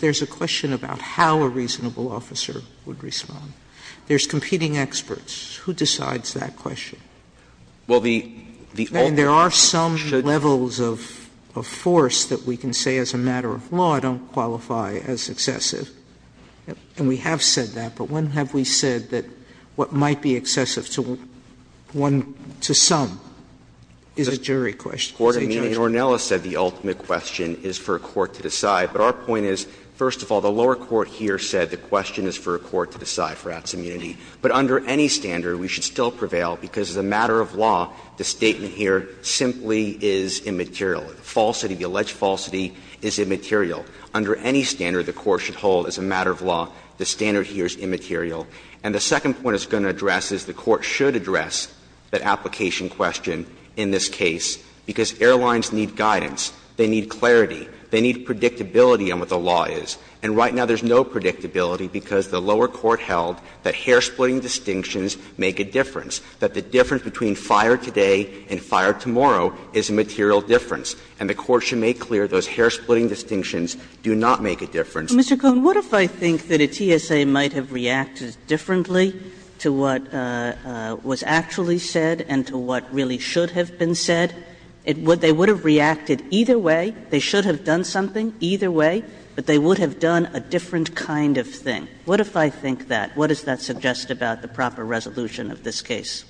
there's a question about how a reasonable officer would respond. There's competing experts. Who decides that question? And there are some levels of force that we can say as a matter of law don't qualify as excessive. And we have said that, but when have we said that what might be excessive to one, to some, is a jury question? Is a judge's question. Ornelas said the ultimate question is for a court to decide. But our point is, first of all, the lower court here said the question is for a court to decide for acts of immunity. But under any standard, we should still prevail, because as a matter of law, the statement here simply is immaterial. The falsity, the alleged falsity is immaterial. Under any standard the Court should hold as a matter of law, the standard here is immaterial. And the second point it's going to address is the Court should address that application question in this case, because airlines need guidance, they need clarity, they need predictability on what the law is. And right now there's no predictability, because the lower court held that hair-splitting distinctions make a difference, that the difference between fire today and fire tomorrow is a material difference, and the Court should make clear those hair-splitting distinctions do not make a difference. Kagan. Kagan. What if I think that a TSA might have reacted differently to what was actually said and to what really should have been said? They would have reacted either way. They should have done something either way, but they would have done a different kind of thing. What if I think that? What does that suggest about the proper resolution of this case?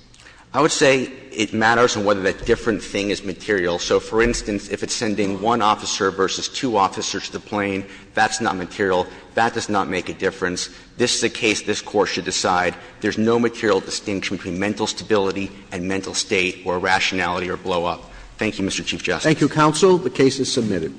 I would say it matters on whether that different thing is material. So, for instance, if it's sending one officer versus two officers to the plane, that's not material. That does not make a difference. This is a case this Court should decide. There's no material distinction between mental stability and mental state or irrationality or blow-up. Thank you, Mr. Chief Justice. Thank you, counsel. The case is submitted.